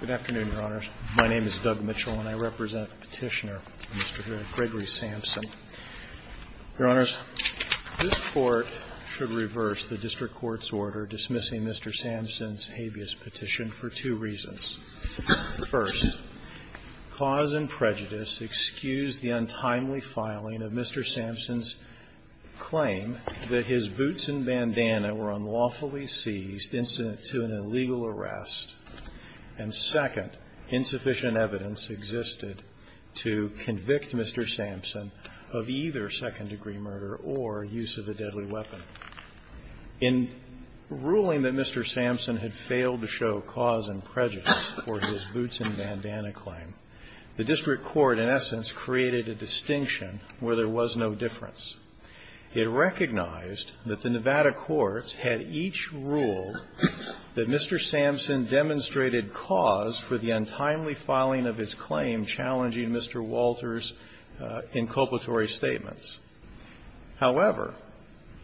Good afternoon, Your Honors. My name is Doug Mitchell, and I represent the petitioner, Mr. Gregory Sampson. Your Honors, this Court should reverse the district court's order dismissing Mr. Sampson's habeas petition for two reasons. First, cause and prejudice excuse the untimely filing of Mr. Sampson's claim that his boots and bandana were unlawfully seized incident to an illegal arrest. And second, insufficient evidence existed to convict Mr. Sampson of either second-degree murder or use of a deadly weapon. In ruling that Mr. Sampson had failed to show cause and prejudice for his boots and bandana claim, the district court, in essence, created a distinction where there was no difference. It recognized that the Nevada courts had each ruled that Mr. Sampson demonstrated cause for the untimely filing of his claim challenging Mr. Walter's inculpatory statements. However,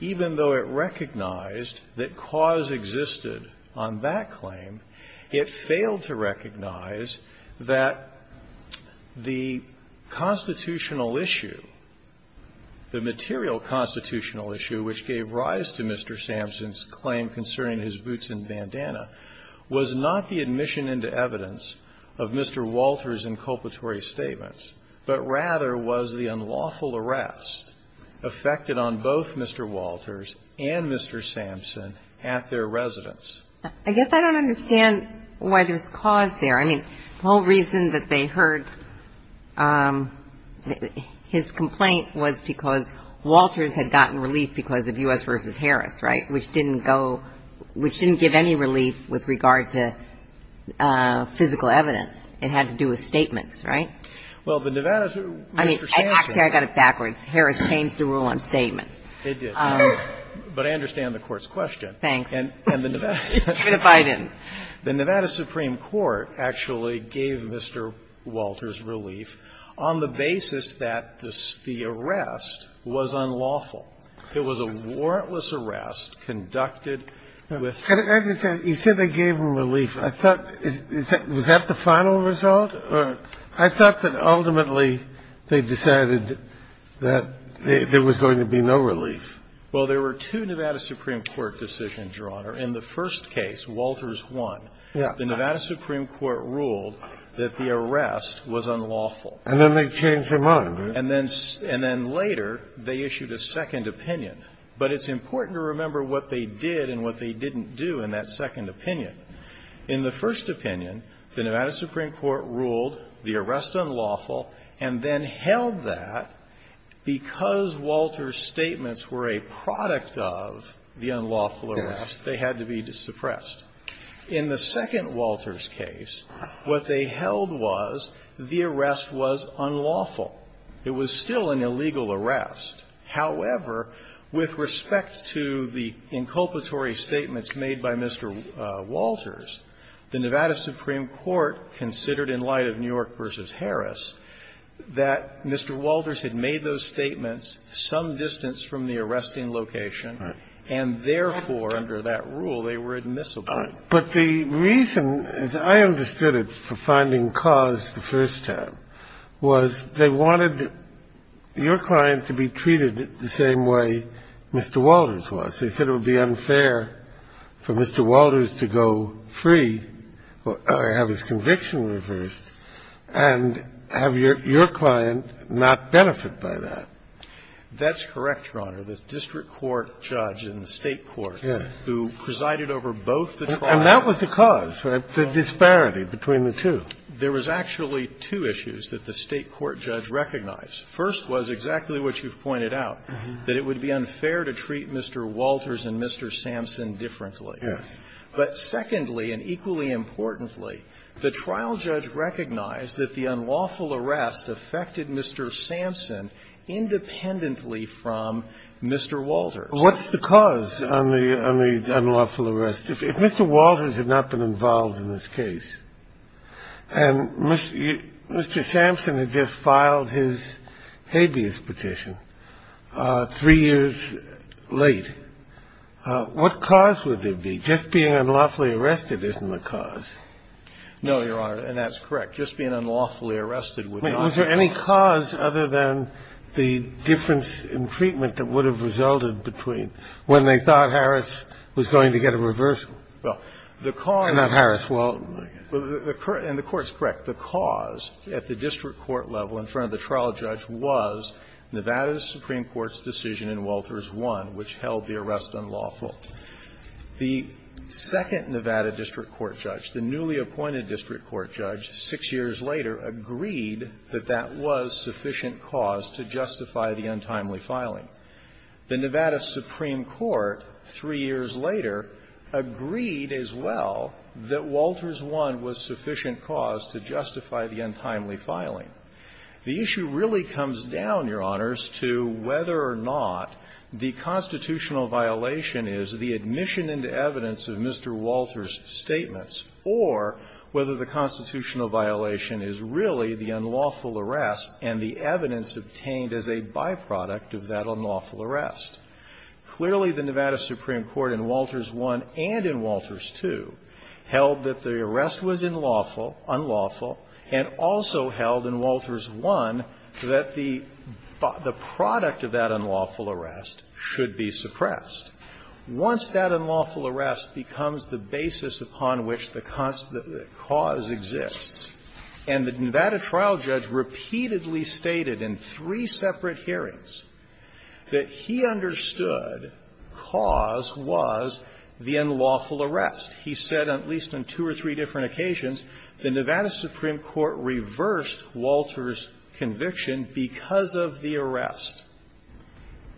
even though it recognized that cause existed on that claim, it failed to recognize that the constitutional issue, the material constitutional issue which gave rise to Mr. Sampson's claim concerning his boots and bandana was not the admission into evidence of Mr. Walter's inculpatory statements, but rather was the unlawful arrest affected on both Mr. Walter's and Mr. Sampson at their residence. I guess I don't understand why there's cause there. I mean, the whole reason that they heard his complaint was because Walters had gotten relief because of U.S. v. Harris, right, which didn't go – which didn't give any relief with regard to physical evidence. It had to do with statements, right? Well, the Nevada's rule, Mr. Sampson. Actually, I got it backwards. Harris changed the rule on statements. It did. But I understand the court's question. Thanks. And the Nevada's. Even if I didn't. The Nevada Supreme Court actually gave Mr. Walter's relief on the basis that the arrest was unlawful. It was a warrantless arrest conducted with the – You said they gave him relief. I thought – was that the final result? I thought that ultimately they decided that there was going to be no relief. Well, there were two Nevada Supreme Court decisions, Your Honor. In the first case, Walters won. Yes. The Nevada Supreme Court ruled that the arrest was unlawful. And then they changed the motto. And then later, they issued a second opinion. But it's important to remember what they did and what they didn't do in that second opinion. In the first opinion, the Nevada Supreme Court ruled the arrest unlawful and then held that because Walters' statements were a product of the unlawful arrest, they had to be suppressed. In the second Walters' case, what they held was the arrest was unlawful. It was still an illegal arrest. However, with respect to the inculpatory statements made by Mr. Walters, the Nevada Supreme Court ruled that Mr. Walters had made those statements some distance from the arresting location, and therefore, under that rule, they were admissible. But the reason, as I understood it, for finding cause the first time was they wanted your client to be treated the same way Mr. Walters was. They said it would be unfair for Mr. Walters to go free or have his conviction reversed and have your client not benefit by that. That's correct, Your Honor. The district court judge in the State court who presided over both the trials. And that was the cause, the disparity between the two. There was actually two issues that the State court judge recognized. First was exactly what you've pointed out, that it would be unfair to treat Mr. Walters and Mr. Sampson differently. Yes. But secondly, and equally importantly, the trial judge recognized that the unlawful arrest affected Mr. Sampson independently from Mr. Walters. What's the cause on the unlawful arrest? If Mr. Walters had not been involved in this case, and Mr. Sampson had just filed his habeas petition three years late, what cause would there be? Just being unlawfully arrested isn't the cause. No, Your Honor, and that's correct. Just being unlawfully arrested would not be the cause. Was there any cause other than the difference in treatment that would have resulted between when they thought Harris was going to get a reversal? Well, the cause of the court's correct. The cause at the district court level in front of the trial judge was Nevada's Supreme Court's decision in Walters 1 which held the arrest unlawful. The second Nevada district court judge, the newly appointed district court judge, 6 years later, agreed that that was sufficient cause to justify the untimely filing. The Nevada Supreme Court, 3 years later, agreed as well that Walters 1 was sufficient cause to justify the untimely filing. The issue really comes down, Your Honors, to whether or not the constitutional violation is the admission into evidence of Mr. Walters' statements or whether the constitutional violation is really the unlawful arrest and the evidence obtained as a byproduct of that unlawful arrest. Clearly, the Nevada Supreme Court in Walters 1 and in Walters 2 held that the arrest was unlawful and also held in Walters 1 that the product of that unlawful arrest should be suppressed. Once that unlawful arrest becomes the basis upon which the cause exists, and the Nevada trial judge repeatedly stated in three separate hearings that he understood cause was the unlawful arrest. He said, at least on two or three different occasions, the Nevada Supreme Court reversed Walters' conviction because of the arrest.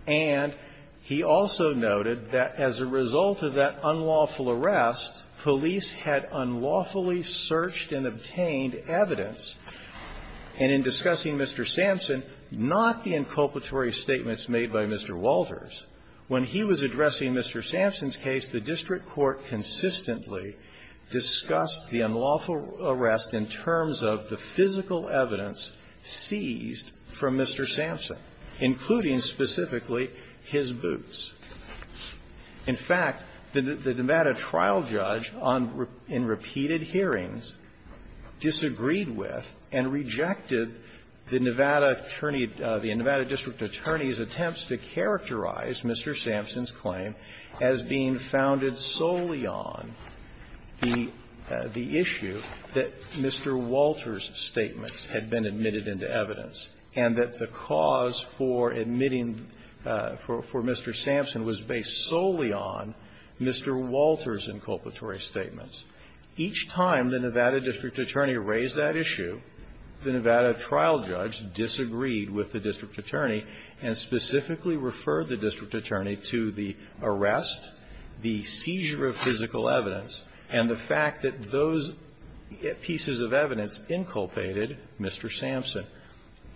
And he also noted that as a result of that unlawful arrest, police had unlawfully searched and obtained evidence. And in discussing Mr. Sampson, not the inculpatory statements made by Mr. Walters, when he was addressing Mr. Sampson's case, the district court consistently discussed the unlawful arrest in terms of the physical evidence seized from Mr. Sampson, including specifically his boots. In fact, the Nevada trial judge on the repeated hearings disagreed with and rejected the Nevada attorney, the Nevada district attorney's attempts to characterize Mr. Sampson's claim as being founded solely on the issue that Mr. Walters' statements had been admitted into evidence, and that the cause for admitting for Mr. Sampson was based solely on Mr. Walters' inculpatory statements. Each time the Nevada district attorney raised that issue, the Nevada trial judge disagreed with the district attorney and specifically referred the district attorney to the arrest, the seizure of physical evidence, and the fact that those pieces of evidence inculpated Mr. Sampson,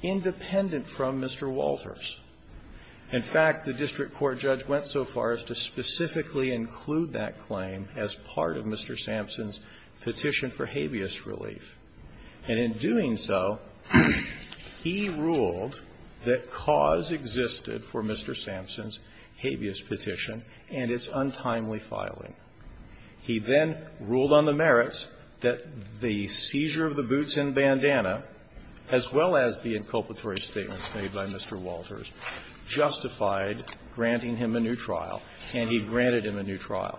independent from Mr. Walters. In fact, the district court judge went so far as to specifically include that claim as part of Mr. Sampson's petition for habeas relief. And in doing so, he ruled that cause existed for Mr. Sampson's habeas petition, and it's untimely filing. He then ruled on the merits that the seizure of the boots and bandana, as well as the inculpatory statements made by Mr. Walters, justified granting him a new trial, and he granted him a new trial.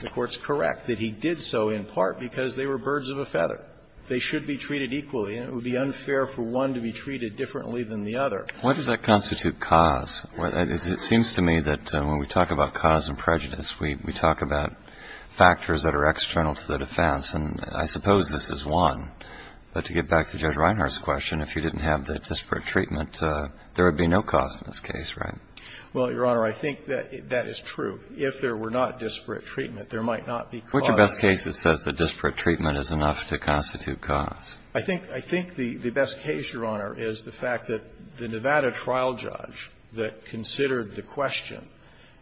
The Court's correct that he did so in part because they were birds of a feather. They should be treated equally, and it would be unfair for one to be treated differently than the other. What does that constitute cause? It seems to me that when we talk about cause and prejudice, we talk about factors that are external to the defense, and I suppose this is one. But to get back to Judge Reinhart's question, if you didn't have the disparate treatment, there would be no cause in this case, right? Well, Your Honor, I think that that is true. If there were not disparate treatment, there might not be cause. What's your best case that says that disparate treatment is enough to constitute cause? I think the best case, Your Honor, is the fact that the Nevada trial judge that considered the question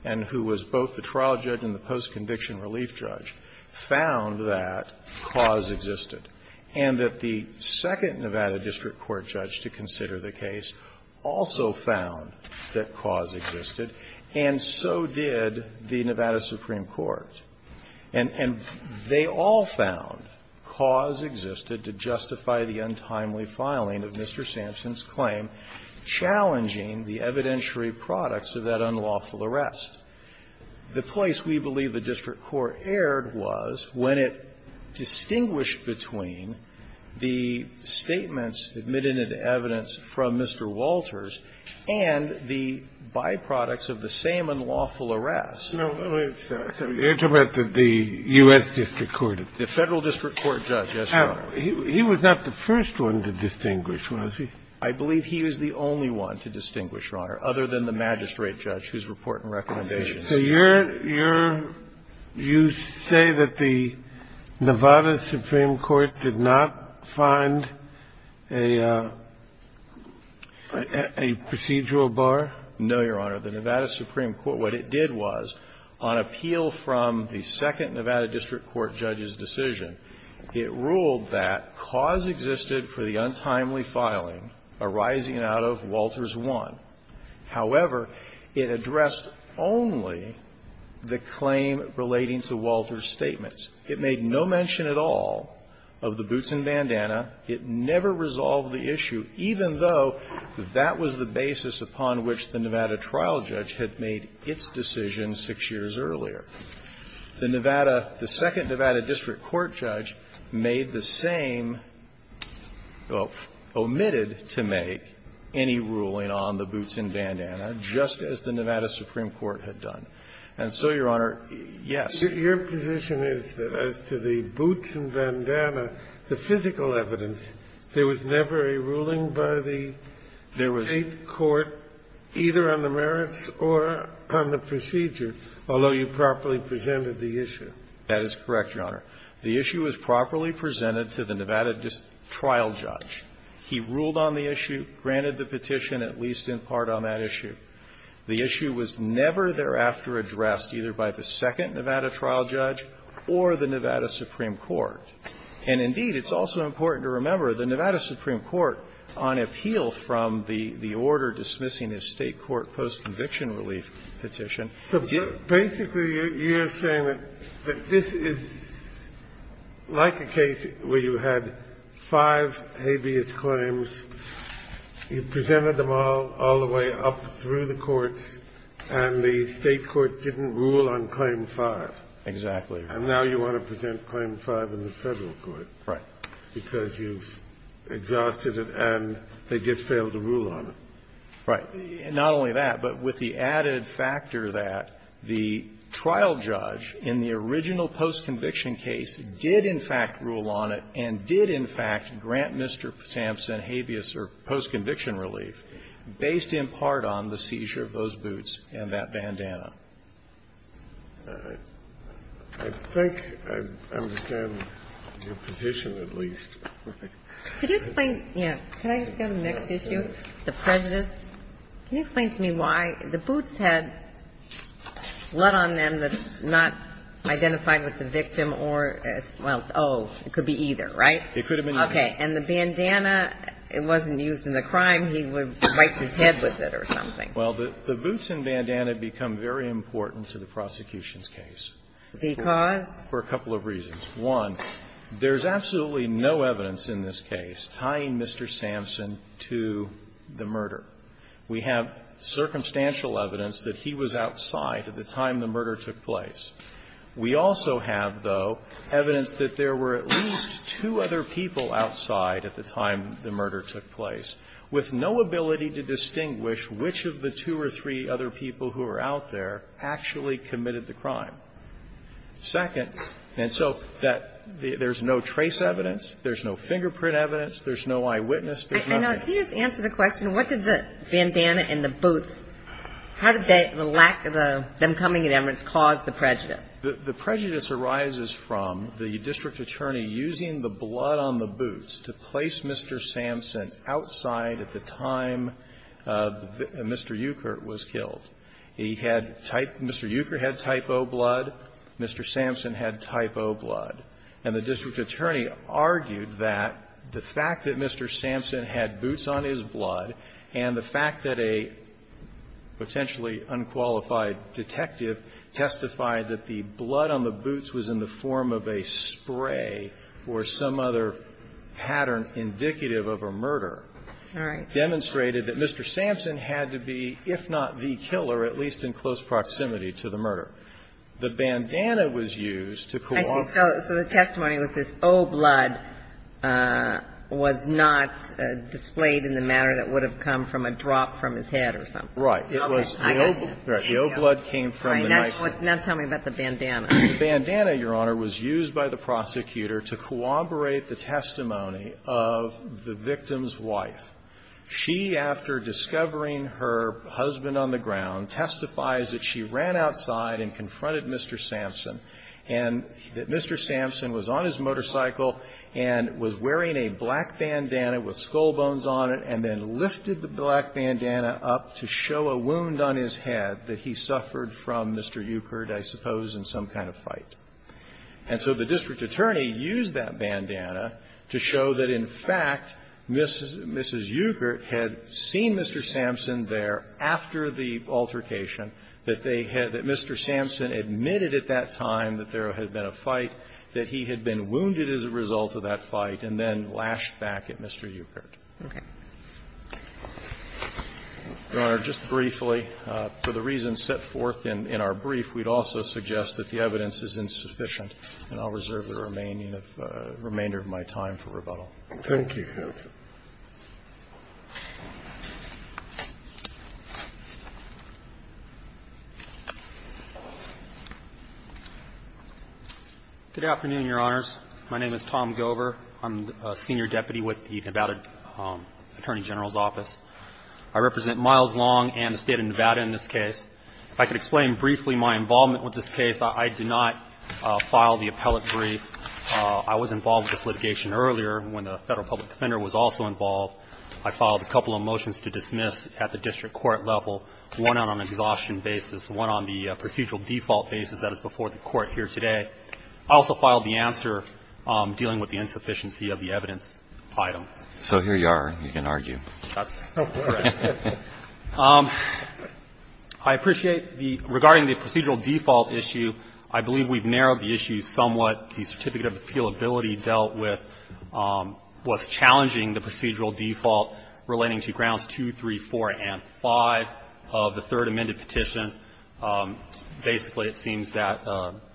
and who was both the trial judge and the post-conviction relief judge found that cause existed, and that the second Nevada district court judge to consider the case also found that cause existed, and so did the Nevada Supreme Court. And they all found cause existed to justify the untimely filing of Mr. Sampson's claim, challenging the evidentiary products of that unlawful arrest. The place we believe the district court erred was when it distinguished between the statements admitted in evidence from Mr. Walters and the byproducts of the same unlawful arrest. No, wait a second. You're talking about the U.S. district court. The Federal District Court judge, yes, Your Honor. He was not the first one to distinguish, was he? I believe he was the only one to distinguish, Your Honor, other than the magistrate judge whose report and recommendations. So you're, you're, you say that the Nevada Supreme Court did not find a, a procedural bar? No, Your Honor. The Nevada Supreme Court, what it did was, on appeal from the second Nevada district court judge's decision, it ruled that cause existed for the untimely filing arising out of Walters 1. However, it addressed only the claim relating to Walters' statements. It made no mention at all of the boots and bandana. It never resolved the issue, even though that was the basis upon which the Nevada trial judge had made its decision 6 years earlier. The Nevada, the second Nevada district court judge made the same, well, omitted to make any ruling on the boots and bandana, just as the Nevada Supreme Court had done. And so, Your Honor, yes. Your position is that as to the boots and bandana, the physical evidence, there was never a ruling by the State court either on the merits or on the procedure, although you properly presented the issue. That is correct, Your Honor. The issue was properly presented to the Nevada trial judge. He ruled on the issue, granted the petition, at least in part on that issue. The issue was never thereafter addressed either by the second Nevada trial judge or the Nevada Supreme Court. And indeed, it's also important to remember, the Nevada Supreme Court, on appeal from the order dismissing his State court post-conviction relief petition, did not make any ruling on the boots and bandana. Scalia's claims, you presented them all, all the way up through the courts, and the State court didn't rule on Claim 5. Exactly. And now you want to present Claim 5 in the Federal court. Right. Because you've exhausted it and they just failed to rule on it. Right. Not only that, but with the added factor that the trial judge in the original post-conviction case did, in fact, rule on it and did, in fact, grant Mr. Sampson habeas or post-conviction relief based in part on the seizure of those boots and that bandana. I think I understand your position, at least. Could you explain the next issue, the prejudice? Can you explain to me why the boots had blood on them that's not identified with the victim or as well as oh, it could be either, right? It could have been either. Okay. And the bandana, it wasn't used in the crime. He would wipe his head with it or something. Well, the boots and bandana become very important to the prosecution's case. Because? For a couple of reasons. One, there's absolutely no evidence in this case tying Mr. Sampson to the murder. We have circumstantial evidence that he was outside at the time the murder took place. We also have, though, evidence that there were at least two other people outside at the time the murder took place, with no ability to distinguish which of the two or three other people who were out there actually committed the crime. Second, and so that there's no trace evidence, there's no fingerprint evidence, there's no eyewitness, there's nothing. I know. Can you just answer the question, what did the bandana and the boots, how did the lack of them coming in evidence cause the prejudice? The prejudice arises from the district attorney using the blood on the boots to place Mr. Sampson outside at the time Mr. Euchert was killed. He had type Mr. Euchert had type O blood, Mr. Sampson had type O blood. And the district attorney argued that the fact that Mr. Sampson had boots on his blood and the fact that a potentially unqualified detective testified that the blood on the boots was in the form of a spray or some other pattern indicative of a murder demonstrated that Mr. Sampson had to be, if not the killer, at least in close proximity to the murder. The bandana was used to co-opt. So the testimony was this O blood was not displayed in the manner that would have come from a drop from his head or something. Right. It was the O blood came from the knife. Now tell me about the bandana. The bandana, Your Honor, was used by the prosecutor to co-operate the testimony of the victim's wife. She, after discovering her husband on the ground, testifies that she ran outside and confronted Mr. Sampson, and that Mr. Sampson was on his motorcycle and was wearing a black bandana with skull bones on it and then lifted the black bandana up to show a wound on his head that he suffered from Mr. Euchert, I suppose, in some kind of fight. And so the district attorney used that bandana to show that, in fact, Mrs. Euchert had seen Mr. Sampson there after the altercation, that they had Mr. Sampson admitted at that time that there had been a fight, that he had been wounded as a result of that fight, and then lashed back at Mr. Euchert. Okay. Your Honor, just briefly, for the reasons set forth in our brief, we'd also suggest that the evidence is insufficient, and I'll reserve the remaining of my time for rebuttal. Thank you, Your Honor. Good afternoon, Your Honors. My name is Tom Gover. I'm a senior deputy with the Nevada Attorney General's Office. I represent Miles Long and the State of Nevada in this case. If I could explain briefly my involvement with this case, I did not file the appellate brief. I was involved with this litigation earlier when the Federal public defender was also involved. I filed a couple of motions to dismiss at the district court level, one on an exhaustion basis, one on the procedural default basis that is before the Court here today. I also filed the answer dealing with the insufficiency of the evidence item. So here you are. You can argue. That's correct. I appreciate the regarding the procedural default issue, I believe we've narrowed the issue somewhat. The certificate of appealability dealt with what's challenging the procedural default relating to grounds 2, 3, 4, and 5 of the third amended petition. Basically, it seems that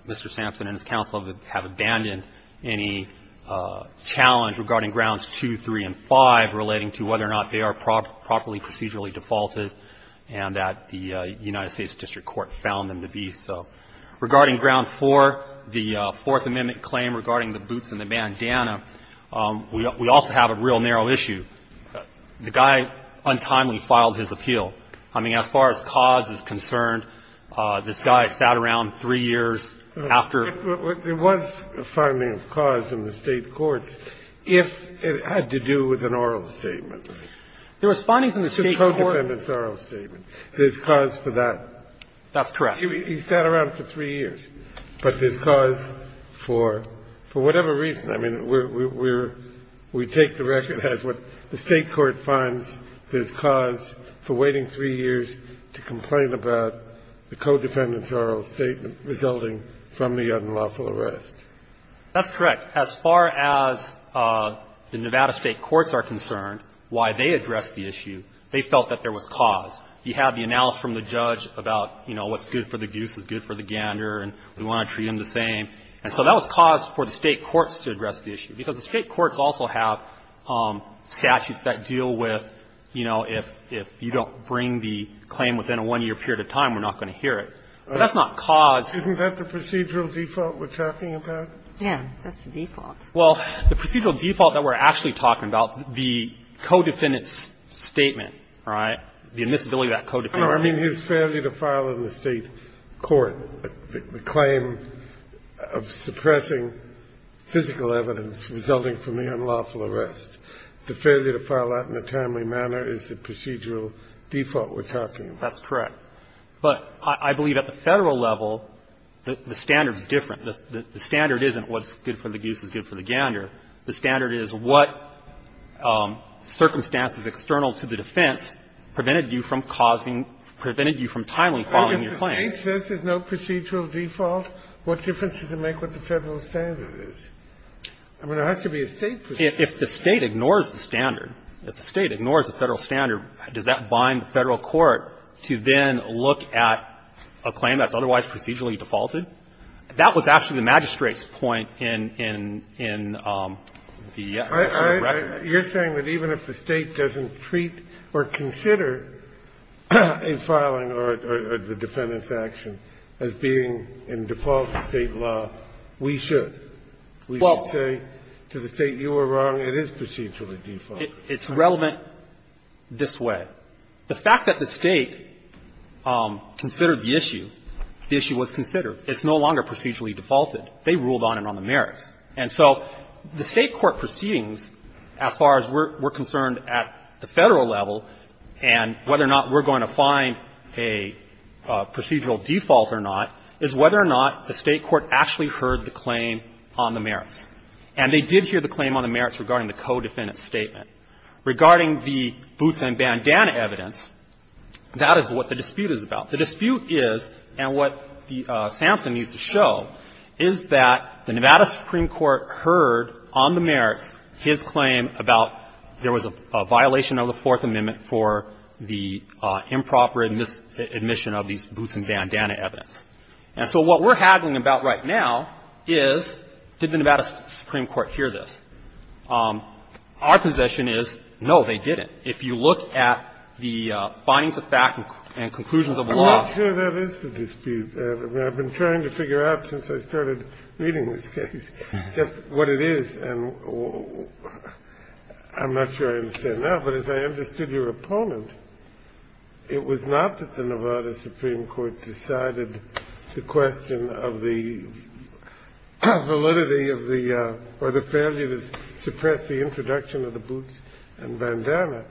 Mr. Sampson and his counsel have abandoned any challenge regarding grounds 2, 3, and 5 relating to whether or not they are properly procedurally defaulted and that the United States district court found them to be so. Regarding ground 4, the Fourth Amendment claim regarding the boots and the bandana, we also have a real narrow issue. The guy untimely filed his appeal. I mean, as far as cause is concerned, this guy sat around three years after he was found guilty. There was a finding of cause in the State courts if it had to do with an oral statement. There was findings in the State court. The codependent's oral statement. There's cause for that. That's correct. He sat around for three years, but there's cause for whatever reason. I mean, we're we take the record as what the State court finds there's cause for waiting three years to complain about the codependent's oral statement resulting from the unlawful arrest. That's correct. As far as the Nevada State courts are concerned, why they addressed the issue, they felt that there was cause. You have the analysis from the judge about, you know, what's good for the goose is good for the gander, and we want to treat him the same. And so that was cause for the State courts to address the issue, because the State courts also have statutes that deal with, you know, if you don't bring the claim within a one-year period of time, we're not going to hear it. But that's not cause. Isn't that the procedural default we're talking about? Yeah. That's the default. Well, the procedural default that we're actually talking about, the codependent's oral statement, right, the admissibility of that codependent's oral statement. No, I mean, his failure to file in the State court the claim of suppressing physical evidence resulting from the unlawful arrest. The failure to file that in a timely manner is the procedural default we're talking about. That's correct. But I believe at the Federal level, the standard's different. The standard isn't what's good for the goose is good for the gander. The standard is what circumstances external to the defense prevented you from causing – prevented you from timely filing your claim. If the State says there's no procedural default, what difference does it make what the Federal standard is? I mean, there has to be a State procedure. If the State ignores the standard, if the State ignores the Federal standard, does that bind the Federal court to then look at a claim that's otherwise procedurally defaulted? That was actually the magistrate's point in the record. You're saying that even if the State doesn't treat or consider a filing or the defendant's action as being in default State law, we should? We should say to the State, you were wrong, it is procedurally defaulted. It's relevant this way. The fact that the State considered the issue, the issue was considered. It's no longer procedurally defaulted. They ruled on it on the merits. And so the State court proceedings, as far as we're concerned at the Federal level and whether or not we're going to find a procedural default or not, is whether or not the State court actually heard the claim on the merits. And they did hear the claim on the merits regarding the co-defendant's statement. Regarding the boots and bandana evidence, that is what the dispute is about. The dispute is, and what the sample needs to show, is that the Nevada Supreme Court heard on the merits his claim about there was a violation of the Fourth Amendment for the improper admission of these boots and bandana evidence. And so what we're haggling about right now is did the Nevada Supreme Court hear this. Our position is, no, they didn't. If you look at the findings of fact and conclusions of the law. I'm not sure that is the dispute. I've been trying to figure out since I started reading this case just what it is. And I'm not sure I understand that. But as I understood your opponent, it was not that the Nevada Supreme Court decided the question of the validity of the or the failure to suppress the introduction of the boots and bandana.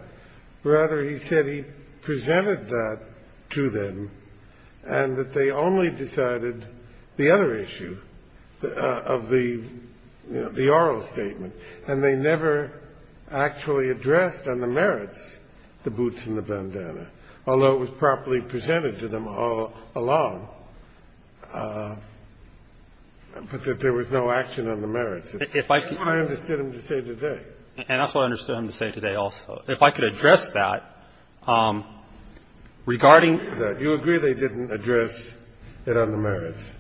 Rather, he said he presented that to them and that they only decided the other issue of the, you know, the oral statement. And they never actually addressed on the merits the boots and the bandana, although it was properly presented to them all along, but that there was no action on the merits. That's what I understood him to say today. And that's what I understood him to say today also. If I could address that, regarding the You agree they didn't address it on the merits.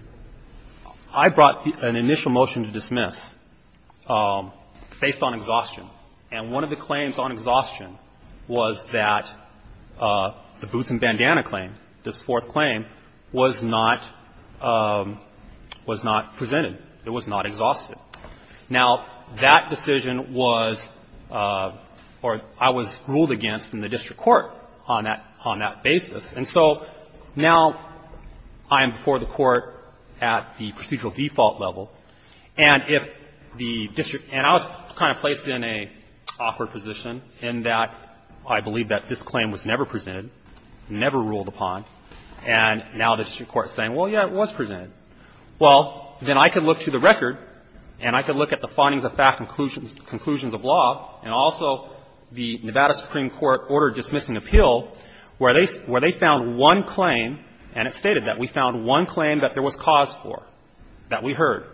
I brought an initial motion to dismiss based on exhaustion. And one of the claims on exhaustion was that the boots and bandana claim, this fourth claim, was not presented. It was not exhausted. Now, that decision was or I was ruled against in the district court on that basis. And so now I am before the Court at the procedural default level. And if the district – and I was kind of placed in an awkward position in that I believe that this claim was never presented, never ruled upon, and now the district court is saying, well, yeah, it was presented. Well, then I could look to the record and I could look at the findings of fact conclusions of law and also the Nevada Supreme Court order dismissing appeal, where they found one claim, and it stated that we found one claim that there was cause for, that we heard,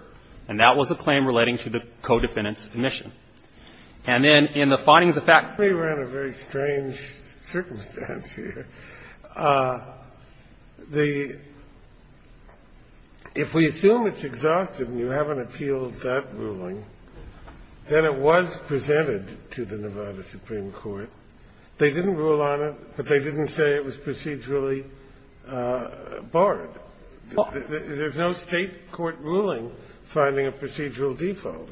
and that was a claim relating to the co-defendant's omission. And then in the findings of fact we were in a very strange circumstance here. The – if we assume it's exhausted and you haven't appealed that ruling, then it was presented to the Nevada Supreme Court. They didn't rule on it, but they didn't say it was procedurally barred. There's no State court ruling finding a procedural default.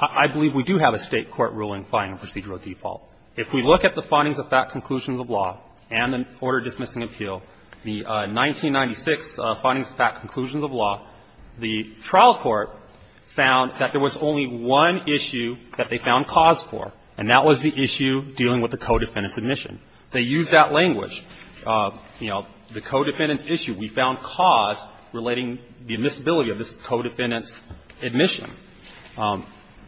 I believe we do have a State court ruling finding a procedural default. If we look at the findings of fact conclusions of law and the order dismissing appeal, the 1996 findings of fact conclusions of law, the trial court found that there was only one issue that they found cause for, and that was the issue dealing with the co-defendant's omission. They used that language. You know, the co-defendant's issue, we found cause relating the omissibility of this co-defendant's omission.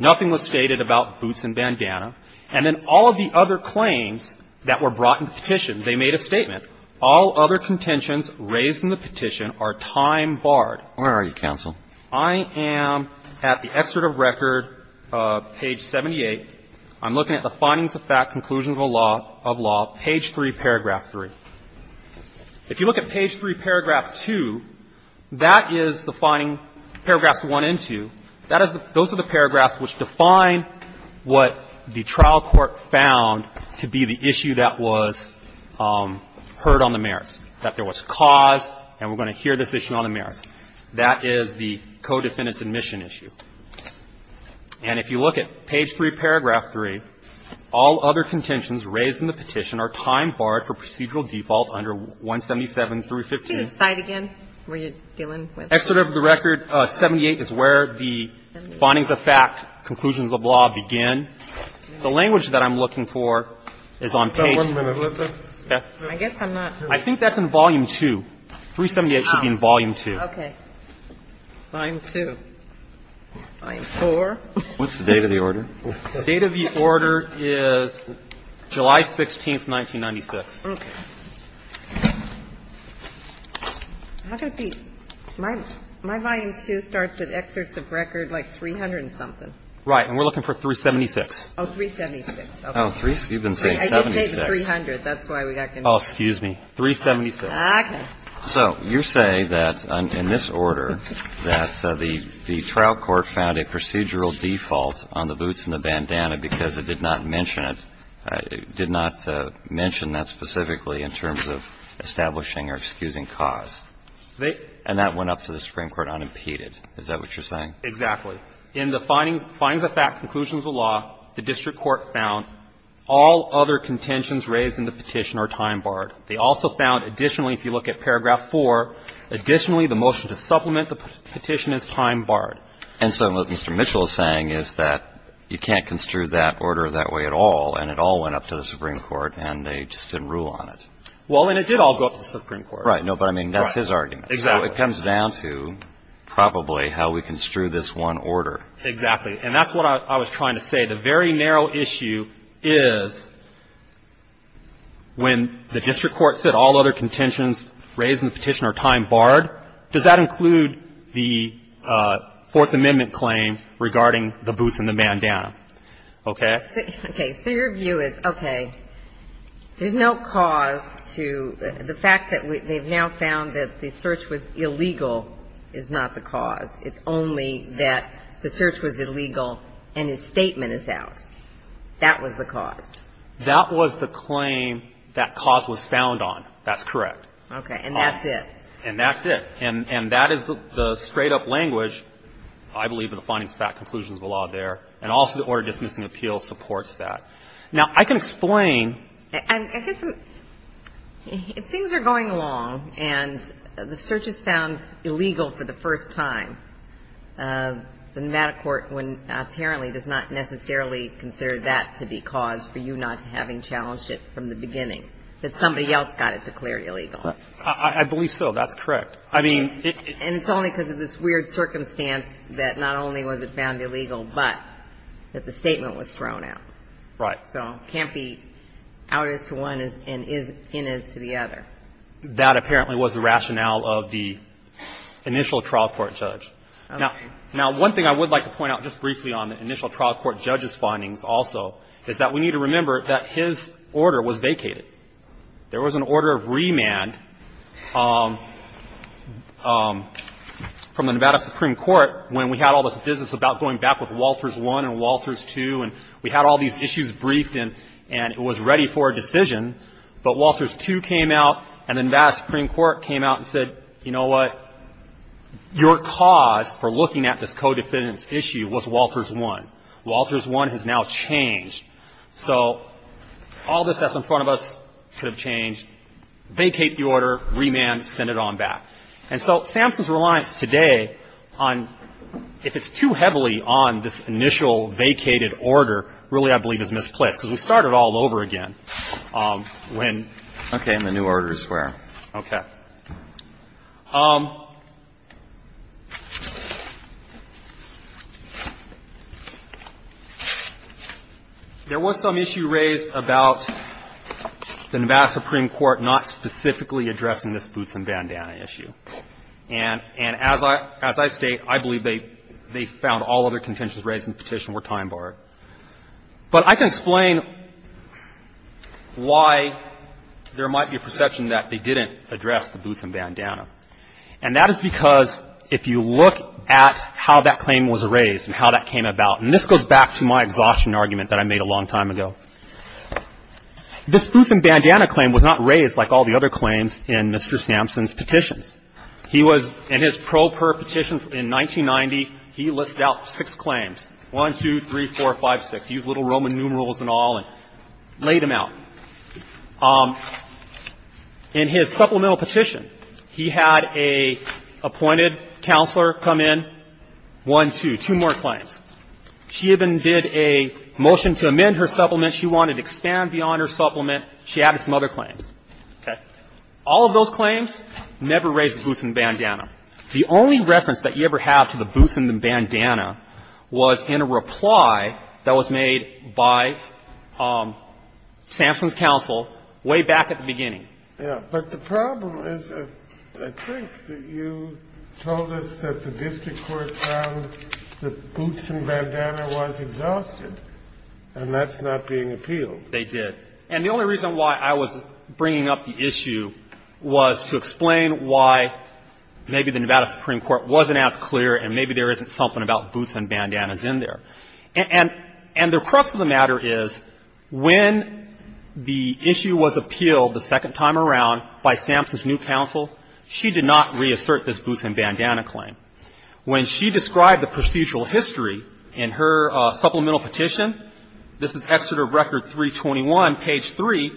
Nothing was stated about Boots and Bandana. And then all of the other claims that were brought in the petition, they made a statement. All other contentions raised in the petition are time barred. Alito, counsel. I am at the excerpt of record, page 78. I'm looking at the findings of fact conclusions of law, page 3, paragraph 3. If you look at page 3, paragraph 2, that is the finding, paragraphs 1 and 2, that is the, those are the paragraphs which define what the trial court found to be the issue that was heard on the merits, that there was cause, and we're going to hear this issue on the merits, that is the co-defendant's omission issue. And if you look at page 3, paragraph 3, all other contentions raised in the petition are time barred for procedural default under 177.315. Can you read the slide again? What are you dealing with? Excerpt of the record, 78 is where the findings of fact conclusions of law begin. The language that I'm looking for is on page. I guess I'm not. I think that's in volume 2. 378 should be in volume 2. Okay. Volume 2. Volume 4. What's the date of the order? The date of the order is July 16, 1996. Okay. My volume 2 starts at excerpts of record, like, 300 and something. Right. And we're looking for 376. Oh, 376. Oh, you've been saying 76. I did say 300. That's why we got confused. Oh, excuse me. 376. Okay. So you're saying that in this order, that the trial court found a procedural default on the boots and the bandana because it did not mention it, did not mention that specifically in terms of establishing or excusing cause. And that went up to the Supreme Court unimpeded. Is that what you're saying? Exactly. In the findings of fact conclusions of law, the district court found all other contentions raised in the petition are time-barred. They also found additionally, if you look at paragraph 4, additionally the motion to supplement the petition is time-barred. And so what Mr. Mitchell is saying is that you can't construe that order that way at all, and it all went up to the Supreme Court, and they just didn't rule on it. Well, and it did all go up to the Supreme Court. Right. No, but I mean, that's his argument. Exactly. So it comes down to probably how we construe this one order. Exactly. And that's what I was trying to say. The very narrow issue is when the district court said all other contentions raised in the petition are time-barred, does that include the Fourth Amendment claim regarding the boots and the bandana? Okay? Okay. So your view is, okay, there's no cause to the fact that they've now found that the search was illegal is not the cause. It's only that the search was illegal and his statement is out. That was the cause. That was the claim that cause was found on. That's correct. Okay. And that's it. And that's it. And that is the straight-up language, I believe, of the findings of fact conclusions of the law there, and also the Order Dismissing Appeal supports that. Now, I can explain. I guess things are going along, and the search is found illegal for the first time. The Nevada court apparently does not necessarily consider that to be cause for you not having challenged it from the beginning, that somebody else got it declared illegal. I believe so. That's correct. I mean, it's only because of this weird circumstance that not only was it found illegal, but that the statement was thrown out. Right. So it can't be out as to one and in as to the other. That apparently was the rationale of the initial trial court judge. Okay. Now, one thing I would like to point out just briefly on the initial trial court judge's findings also is that we need to remember that his order was vacated. There was an order of remand from the Nevada Supreme Court when we had all this business about going back with Walters I and Walters II, and we had all these issues briefed, and it was ready for a decision, but Walters II came out, and the Nevada Supreme Court came out and said, you know what, your cause for looking at this co-defendant's issue was Walters I. Walters I has now changed. So all this that's in front of us could have changed. Vacate the order, remand, send it on back. And so SAMHSA's reliance today on, if it's too heavily on this initial vacated order, really I believe is misplaced, because we started all over again when – Okay. And the new orders were. Okay. There was some issue raised about the Nevada Supreme Court not specifically addressing this boots and bandana issue. And as I state, I believe they found all other contentions raised in the petition were time-barred. But I can explain why there might be a perception that they didn't address the boots and bandana. And that is because if you look at how that claim was raised and how that came about, and this goes back to my exhaustion argument that I made a long time ago, this boots and bandana claim was not raised like all the other claims in Mr. Sampson's petitions. He was – in his pro per petition in 1990, he listed out six claims, 1, 2, 3, 4, 5, 6. He used little Roman numerals and all and laid them out. In his supplemental petition, he had an appointed counselor come in, 1, 2, two more claims. She even did a motion to amend her supplement. She wanted to expand beyond her supplement. She added some other claims. Okay. All of those claims never raised the boots and bandana. The only reference that you ever have to the boots and the bandana was in a reply that was made by Sampson's counsel way back at the beginning. Yeah. But the problem is, I think, that you told us that the district court found that boots and bandana was exhausted, and that's not being appealed. They did. And the only reason why I was bringing up the issue was to explain why maybe the Nevada Supreme Court wasn't as clear and maybe there isn't something about boots and bandanas in there. And the crux of the matter is, when the issue was appealed the second time around by Sampson's new counsel, she did not reassert this boots and bandana claim. When she described the procedural history in her supplemental petition, this is Exeter Record 321, page 3,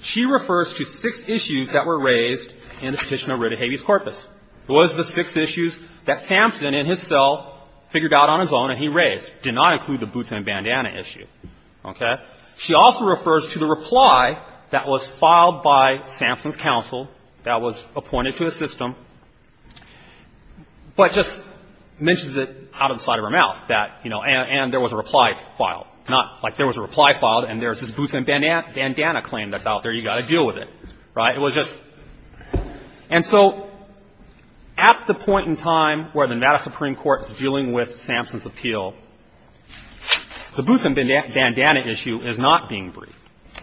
she refers to six issues that were raised in the petition over to Habeas Corpus. It was the six issues that Sampson in his cell figured out on his own and he raised. It did not include the boots and bandana issue. Okay? She also refers to the reply that was filed by Sampson's counsel that was appointed to the system, but just mentions it out of the side of her mouth that, you know, and there was a reply filed. Not like there was a reply filed and there's this boots and bandana claim that's out there. You've got to deal with it. Right? It was just. And so at the point in time where the Nevada Supreme Court is dealing with Sampson's appeal, the boots and bandana issue is not being briefed.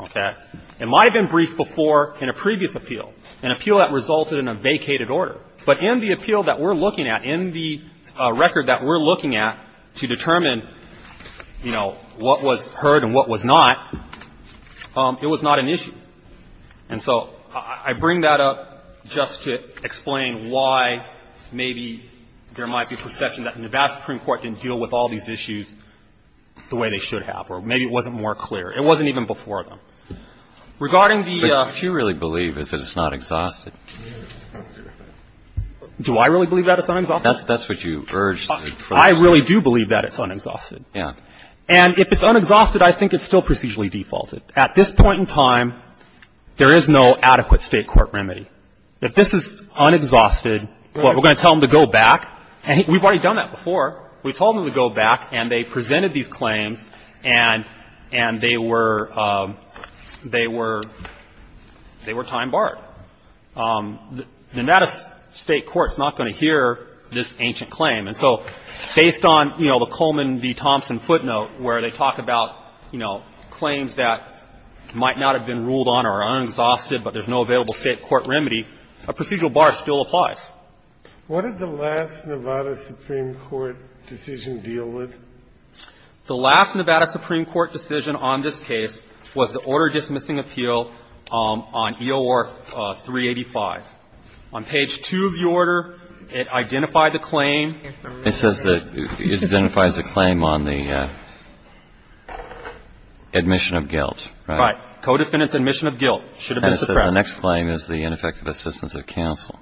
Okay? It might have been briefed before in a previous appeal, an appeal that resulted in a vacated order. But in the appeal that we're looking at, in the record that we're looking at to determine, you know, what was heard and what was not, it was not an issue. And so I bring that up just to explain why maybe there might be a perception that the Nevada Supreme Court didn't deal with all these issues the way they should have, or maybe it wasn't more clear. It wasn't even before them. Regarding the. But what you really believe is that it's not exhausted. Do I really believe that it's not exhausted? That's what you urged. I really do believe that it's unexhausted. Yeah. And if it's unexhausted, I think it's still procedurally defaulted. At this point in time, there is no adequate State court remedy. If this is unexhausted, what, we're going to tell them to go back? And we've already done that before. We told them to go back, and they presented these claims, and they were, they were, they were time barred. The Nevada State court is not going to hear this ancient claim. And so based on, you know, the Coleman v. Thompson footnote where they talk about, you know, claims that might not have been ruled on or are unexhausted, but there's no available State court remedy, a procedural bar still applies. What did the last Nevada Supreme Court decision deal with? The last Nevada Supreme Court decision on this case was the order dismissing appeal on E.O.R. 385. On page 2 of the order, it identified the claim. It says that it identifies the claim on the admission of guilt. Right. Codefendant's admission of guilt. Should have been suppressed. And it says the next claim is the ineffective assistance of counsel.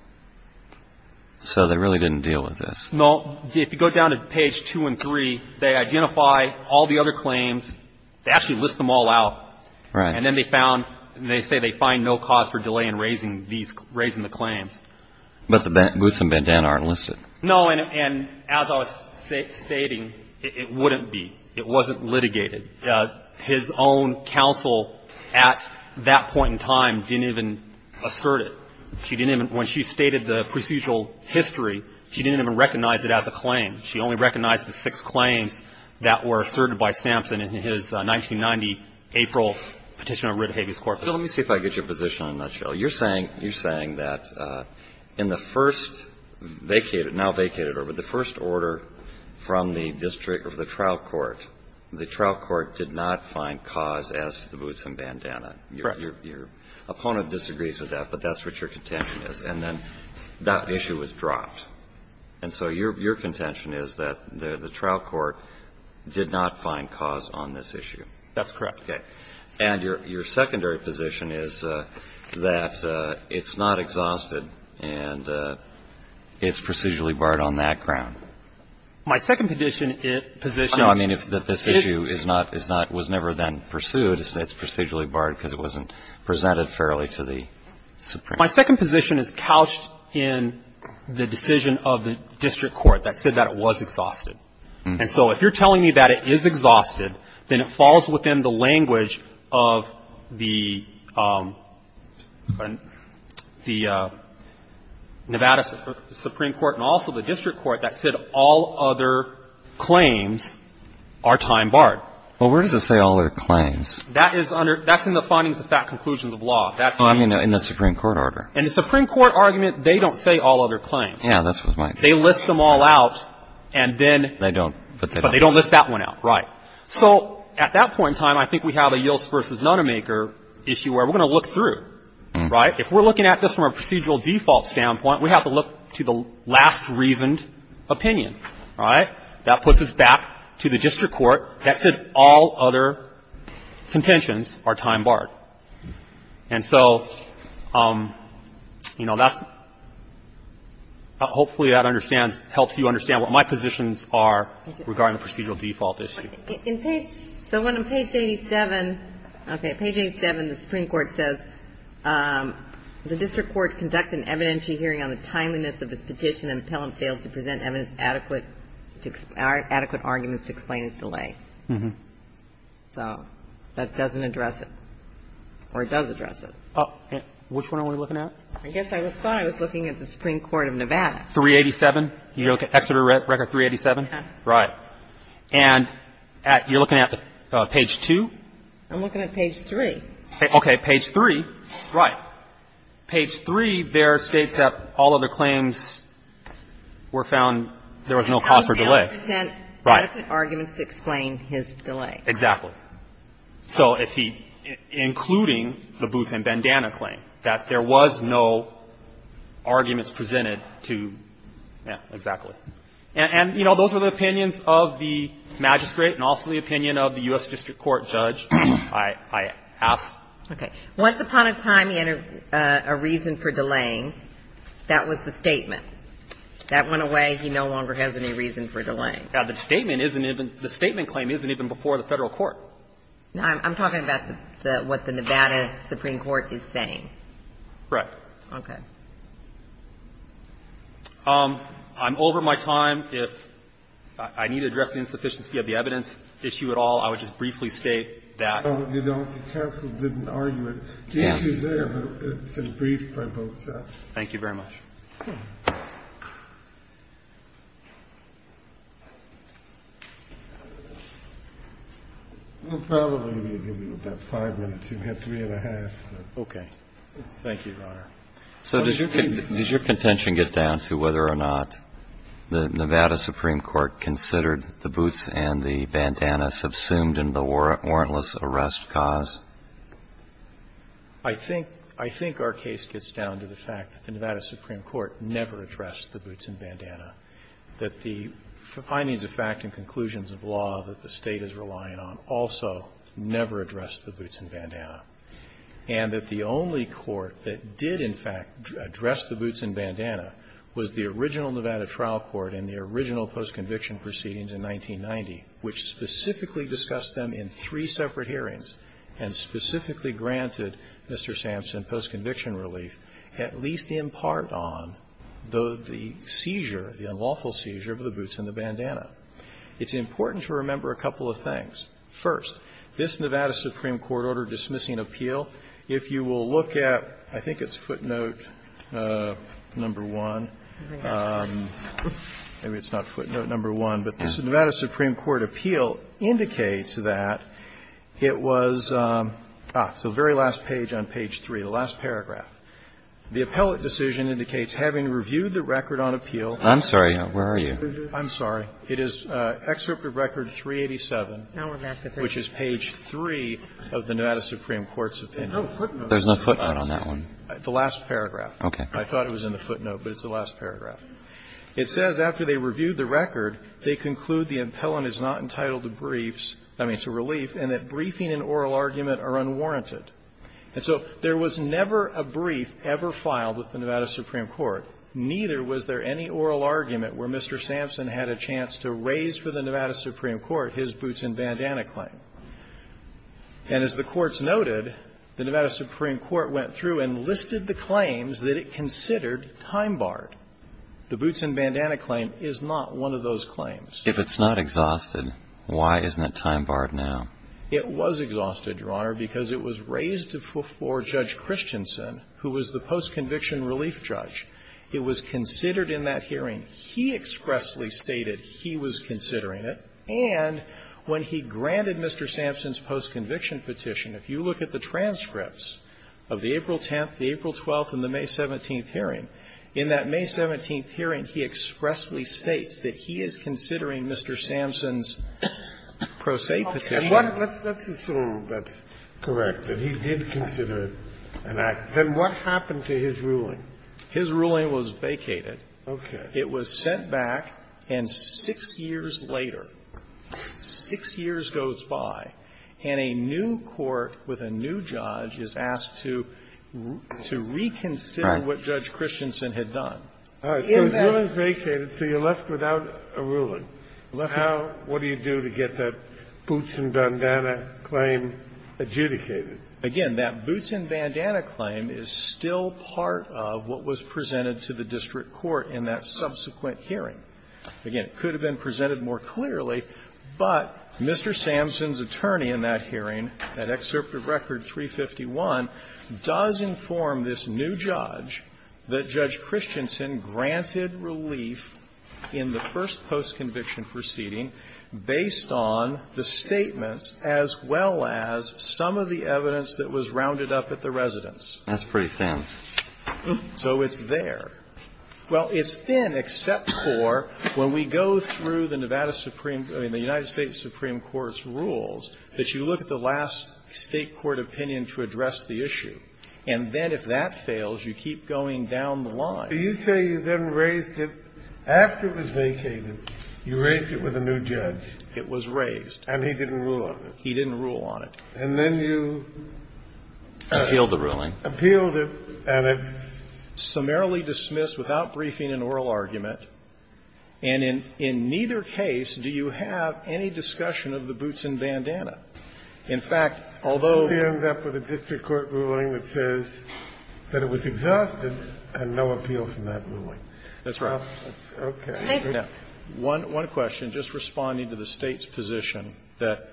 So they really didn't deal with this. No. If you go down to page 2 and 3, they identify all the other claims. They actually list them all out. Right. And then they found, they say they find no cause for delay in raising these, raising the claims. But the Boots and Bandana aren't listed. No, and as I was stating, it wouldn't be. It wasn't litigated. His own counsel at that point in time didn't even assert it. She didn't even, when she stated the procedural history, she didn't even recognize it as a claim. She only recognized the six claims that were asserted by Sampson in his 1990 April petition of writ of habeas corpus. So let me see if I get your position in a nutshell. You're saying, you're saying that in the first vacated, now vacated order, the first order from the district of the trial court, the trial court did not find cause as to the Boots and Bandana. Correct. Your opponent disagrees with that, but that's what your contention is. And then that issue was dropped. And so your contention is that the trial court did not find cause on this issue. That's correct. Okay. And your secondary position is that it's not exhausted and it's procedurally barred on that ground. My second position, it positions. No, I mean, if this issue is not, is not, was never then pursued, it's procedurally barred because it wasn't presented fairly to the Supreme Court. My second position is couched in the decision of the district court that said that it was exhausted. And so if you're telling me that it is exhausted, then it falls within the language of the Nevada Supreme Court and also the district court that said all other claims are time barred. Well, where does it say all other claims? That is under, that's in the findings of fat conclusions of law. That's in the Supreme Court order. And the Supreme Court argument, they don't say all other claims. Yeah, that's what my. They list them all out and then. They don't, but they don't. But they don't list that one out. Right. So at that point in time, I think we have a Yields versus Nonamaker issue where we're going to look through, right? If we're looking at this from a procedural default standpoint, we have to look to the last reasoned opinion, right? That puts us back to the district court that said all other contentions are time barred. And so, you know, that's, hopefully that understands, helps you understand what my positions are regarding the procedural default issue. In page, so on page 87, okay, page 87, the Supreme Court says the district court conducted an evidentiary hearing on the timeliness of this petition and the appellant failed to present evidence adequate to our adequate arguments to explain its delay. So that doesn't address it, or it does address it. Which one are we looking at? I guess I thought I was looking at the Supreme Court of Nevada. 387? You're looking at Exeter Record 387? Right. And you're looking at page 2? I'm looking at page 3. Okay. Page 3, right. And it seems we're found there was no cause for delay. Right. Adequate arguments to explain his delay. Exactly. So if he, including the Booth and Bandana claim, that there was no arguments presented to, yeah, exactly. And, you know, those are the opinions of the magistrate and also the opinion of the U.S. district court judge, I ask. Okay. Once upon a time he had a reason for delaying, that was the statement. That went away. He no longer has any reason for delaying. Now, the statement isn't even the statement claim isn't even before the Federal court. I'm talking about what the Nevada Supreme Court is saying. Right. Okay. I'm over my time. If I need to address the insufficiency of the evidence issue at all, I would just briefly state that. The counsel didn't argue it. The issue is there, but it's been briefed by both sides. Thank you very much. We'll probably give you about five minutes. You've got three and a half. Okay. Thank you, Your Honor. So does your contention get down to whether or not the Nevada Supreme Court considered the boots and the bandana subsumed in the warrantless arrest cause? I think our case gets down to the fact that the Nevada Supreme Court never addressed the boots and bandana, that the findings of fact and conclusions of law that the State is relying on also never addressed the boots and bandana, and that the only court that did, in fact, address the boots and bandana was the original Nevada trial court in the original post-conviction proceedings in 1990, which specifically discussed them in three separate hearings and specifically granted Mr. Sampson post-conviction relief, at least in part on the seizure, the unlawful seizure of the boots and the bandana. It's important to remember a couple of things. First, this Nevada Supreme Court order dismissing appeal, if you will look at, I think it's footnote number 1, maybe it's not footnote number 1, but this Nevada Supreme Court appeal indicates that it was, ah, it's the very last page on page 3, the last paragraph. The appellate decision indicates having reviewed the record on appeal. I'm sorry, where are you? I'm sorry. It is Excerpt of Record 387, which is page 3 of the Nevada Supreme Court's opinion. There's no footnote on that one. The last paragraph. Okay. I thought it was in the footnote, but it's the last paragraph. It says after they reviewed the record, they conclude the appellant is not entitled to briefs, I mean, to relief, and that briefing and oral argument are unwarranted. And so there was never a brief ever filed with the Nevada Supreme Court, neither was there any oral argument where Mr. Sampson had a chance to raise for the Nevada Supreme Court his boots and bandana claim. And as the courts noted, the Nevada Supreme Court went through and listed the claims that it considered time-barred. The boots and bandana claim is not one of those claims. If it's not exhausted, why isn't it time-barred now? It was exhausted, Your Honor, because it was raised before Judge Christensen, who was the post-conviction relief judge. It was considered in that hearing. He expressly stated he was considering it. And when he granted Mr. Sampson's post-conviction petition, if you look at the transcripts of the April 10th, the April 12th, and the May 17th hearing, in that May 17th hearing, he expressly states that he is considering Mr. Sampson's pro se petition. Kennedy. And what the rule that's correct, that he did consider it an act. Then what happened to his ruling? His ruling was vacated. Okay. It was sent back, and 6 years later, 6 years goes by, and a new court with a new judge is asked to reconsider what Judge Christensen had done. So the ruling is vacated, so you're left without a ruling. How do you get that boots and bandana claim adjudicated? Again, that boots and bandana claim is still part of what was presented to the district court in that subsequent hearing. Again, it could have been presented more clearly, but Mr. Sampson's attorney in that hearing, that Excerpt of Record 351, does inform this new judge that Judge Christensen granted relief in the first post-conviction proceeding based on the statements as well as some of the evidence that was rounded up at the residence. That's pretty famous. So it's there. Well, it's thin, except for when we go through the Nevada Supreme – I mean, the United States Supreme Court's rules, that you look at the last State court opinion to address the issue. And then if that fails, you keep going down the line. Do you say you then raised it – after it was vacated, you raised it with a new judge? It was raised. And he didn't rule on it. He didn't rule on it. And then you – Appealed the ruling. Appealed it and it's – Summarily dismissed without briefing and oral argument. And in neither case do you have any discussion of the boots and bandana. In fact, although – You end up with a district court ruling that says that it was exhausted and no appeal from that ruling. That's right. Okay. Now, one question. Just responding to the State's position that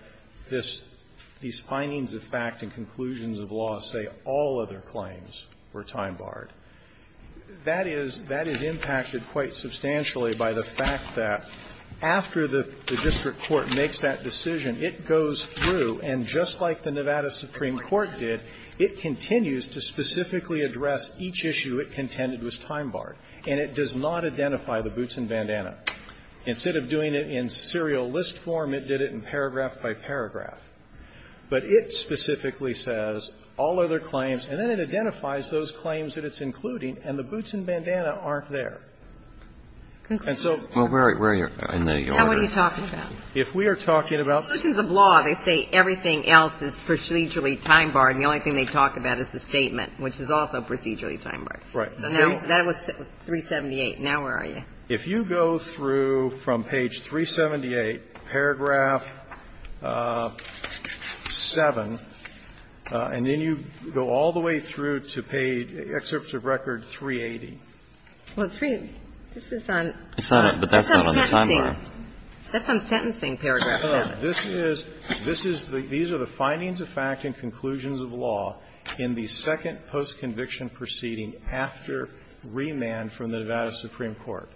this – these findings of fact and conclusions of law say all other claims were time-barred, that is – that is impacted quite substantially by the fact that after the district court makes that decision, it goes through and just like the Nevada Supreme Court did, it continues to specifically address each issue it contended was time-barred. And it does not identify the boots and bandana. Instead of doing it in serial list form, it did it in paragraph by paragraph. But it specifically says all other claims, and then it identifies those claims that it's including, and the boots and bandana aren't there. And so – Well, where are you in the order? Now what are you talking about? If we are talking about – Conclusions of law, they say everything else is procedurally time-barred. The only thing they talk about is the statement, which is also procedurally time-barred. Right. So now – that was 378. Now where are you? If you go through from page 378, paragraph 7, and then you go all the way through to page – excerpt of record 380. Well, 3 – this is on – It's on it, but that's not on the time-bar. That's on sentencing, paragraph 7. This is – this is the – these are the findings of fact and conclusions of law in the second post-conviction proceeding after remand from the Nevada Supreme Court.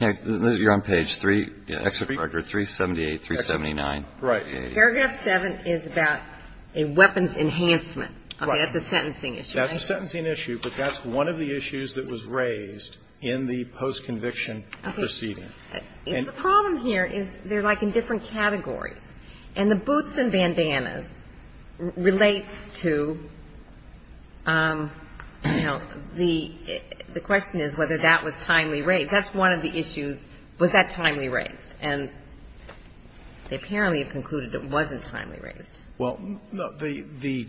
You're on page 3 – excerpt of record 378, 379. Right. Paragraph 7 is about a weapons enhancement. That's a sentencing issue. That's a sentencing issue, but that's one of the issues that was raised in the post-conviction proceeding. The problem here is they're, like, in different categories. And the boots and bandanas relates to, you know, the question is whether that was timely raised. Because that's one of the issues, was that timely raised? And they apparently have concluded it wasn't timely raised. Well, the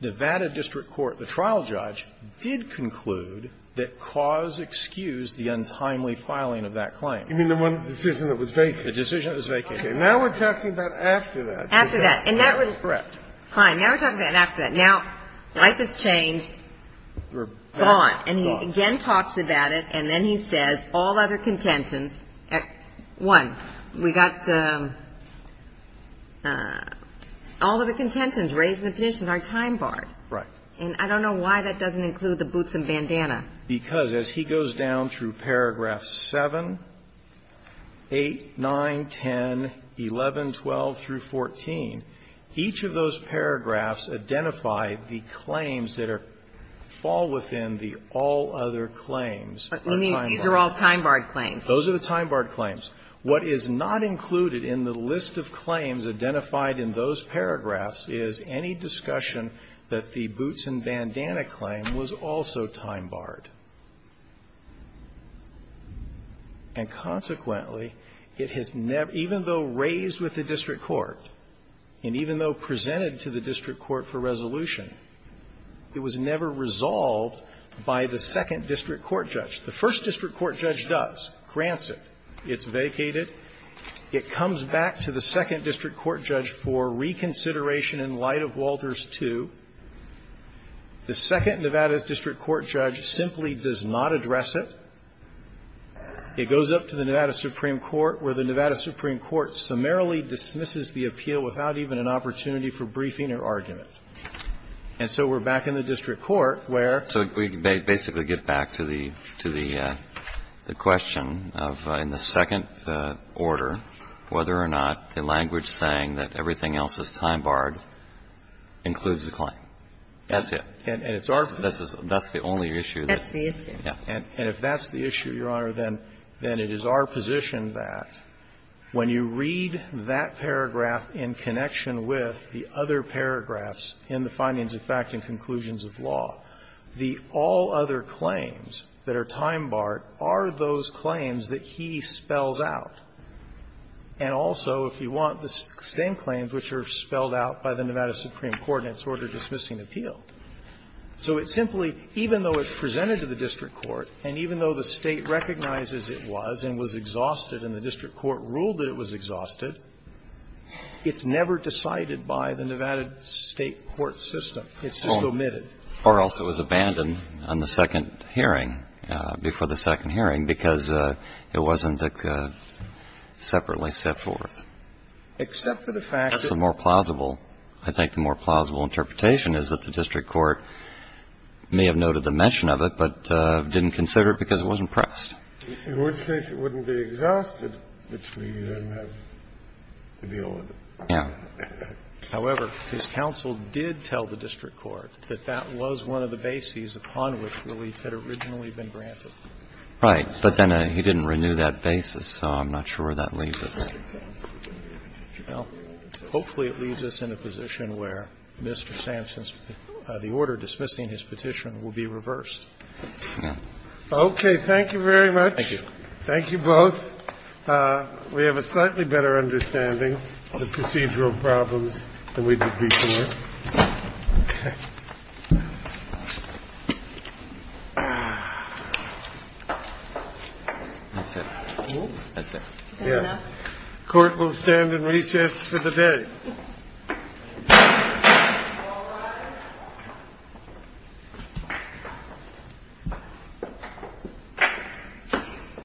Nevada district court, the trial judge, did conclude that cause excused the untimely filing of that claim. You mean the one decision that was vacated? The decision that was vacated. Okay. Now we're talking about after that. After that. And that was – Correct. Fine. Now we're talking about after that. Now, life has changed. Gone. And he again talks about it, and then he says, all other contentions, one, we got the – all other contentions raised in the petition are time barred. Right. And I don't know why that doesn't include the boots and bandana. Because as he goes down through paragraph 7, 8, 9, 10, 11, 12, through 14, each of those paragraphs identify the claims that are – fall within the all other claims are time barred. But you mean these are all time barred claims? Those are the time barred claims. What is not included in the list of claims identified in those paragraphs is any discussion that the boots and bandana claim was also time barred. And consequently, it has never – even though raised with the district court, and even though presented to the district court for resolution, it was never resolved by the second district court judge. The first district court judge does, grants it, it's vacated, it comes back to the second district court judge for reconsideration in light of Walters II. The second Nevada district court judge simply does not address it. It goes up to the Nevada Supreme Court, where the Nevada Supreme Court summarily dismisses the appeal without even an opportunity for briefing or argument. And so we're back in the district court where – So we basically get back to the – to the question of in the second order, whether or not the language saying that everything else is time barred includes the claim. That's it. And it's our – That's the only issue that – That's the issue. Yeah. And if that's the issue, Your Honor, then it is our position that when you read that paragraph in connection with the other paragraphs in the findings of fact and conclusions of law, the all other claims that are time barred are those claims that he spells out. And also, if you want, the same claims which are spelled out by the Nevada Supreme Court in its order dismissing appeal. So it simply, even though it's presented to the district court, and even though the State recognizes it was and was exhausted and the district court ruled that it was time barred, it's never decided by the Nevada State court system. It's just omitted. Or else it was abandoned on the second hearing, before the second hearing, because it wasn't separately set forth. Except for the fact that – That's the more plausible – I think the more plausible interpretation is that the district court may have noted the mention of it but didn't consider it because it wasn't pressed. In which case it wouldn't be exhausted, which we then have to deal with. Yeah. However, his counsel did tell the district court that that was one of the bases upon which relief had originally been granted. Right. But then he didn't renew that basis, so I'm not sure that leaves us. Well, hopefully it leaves us in a position where Mr. Sampson's – the order dismissing his petition will be reversed. Yeah. Okay. Thank you very much. Thank you. Thank you both. We have a slightly better understanding of the procedural problems than we did before. That's it. That's it. Yeah. Court will stand in recess for the day. All rise.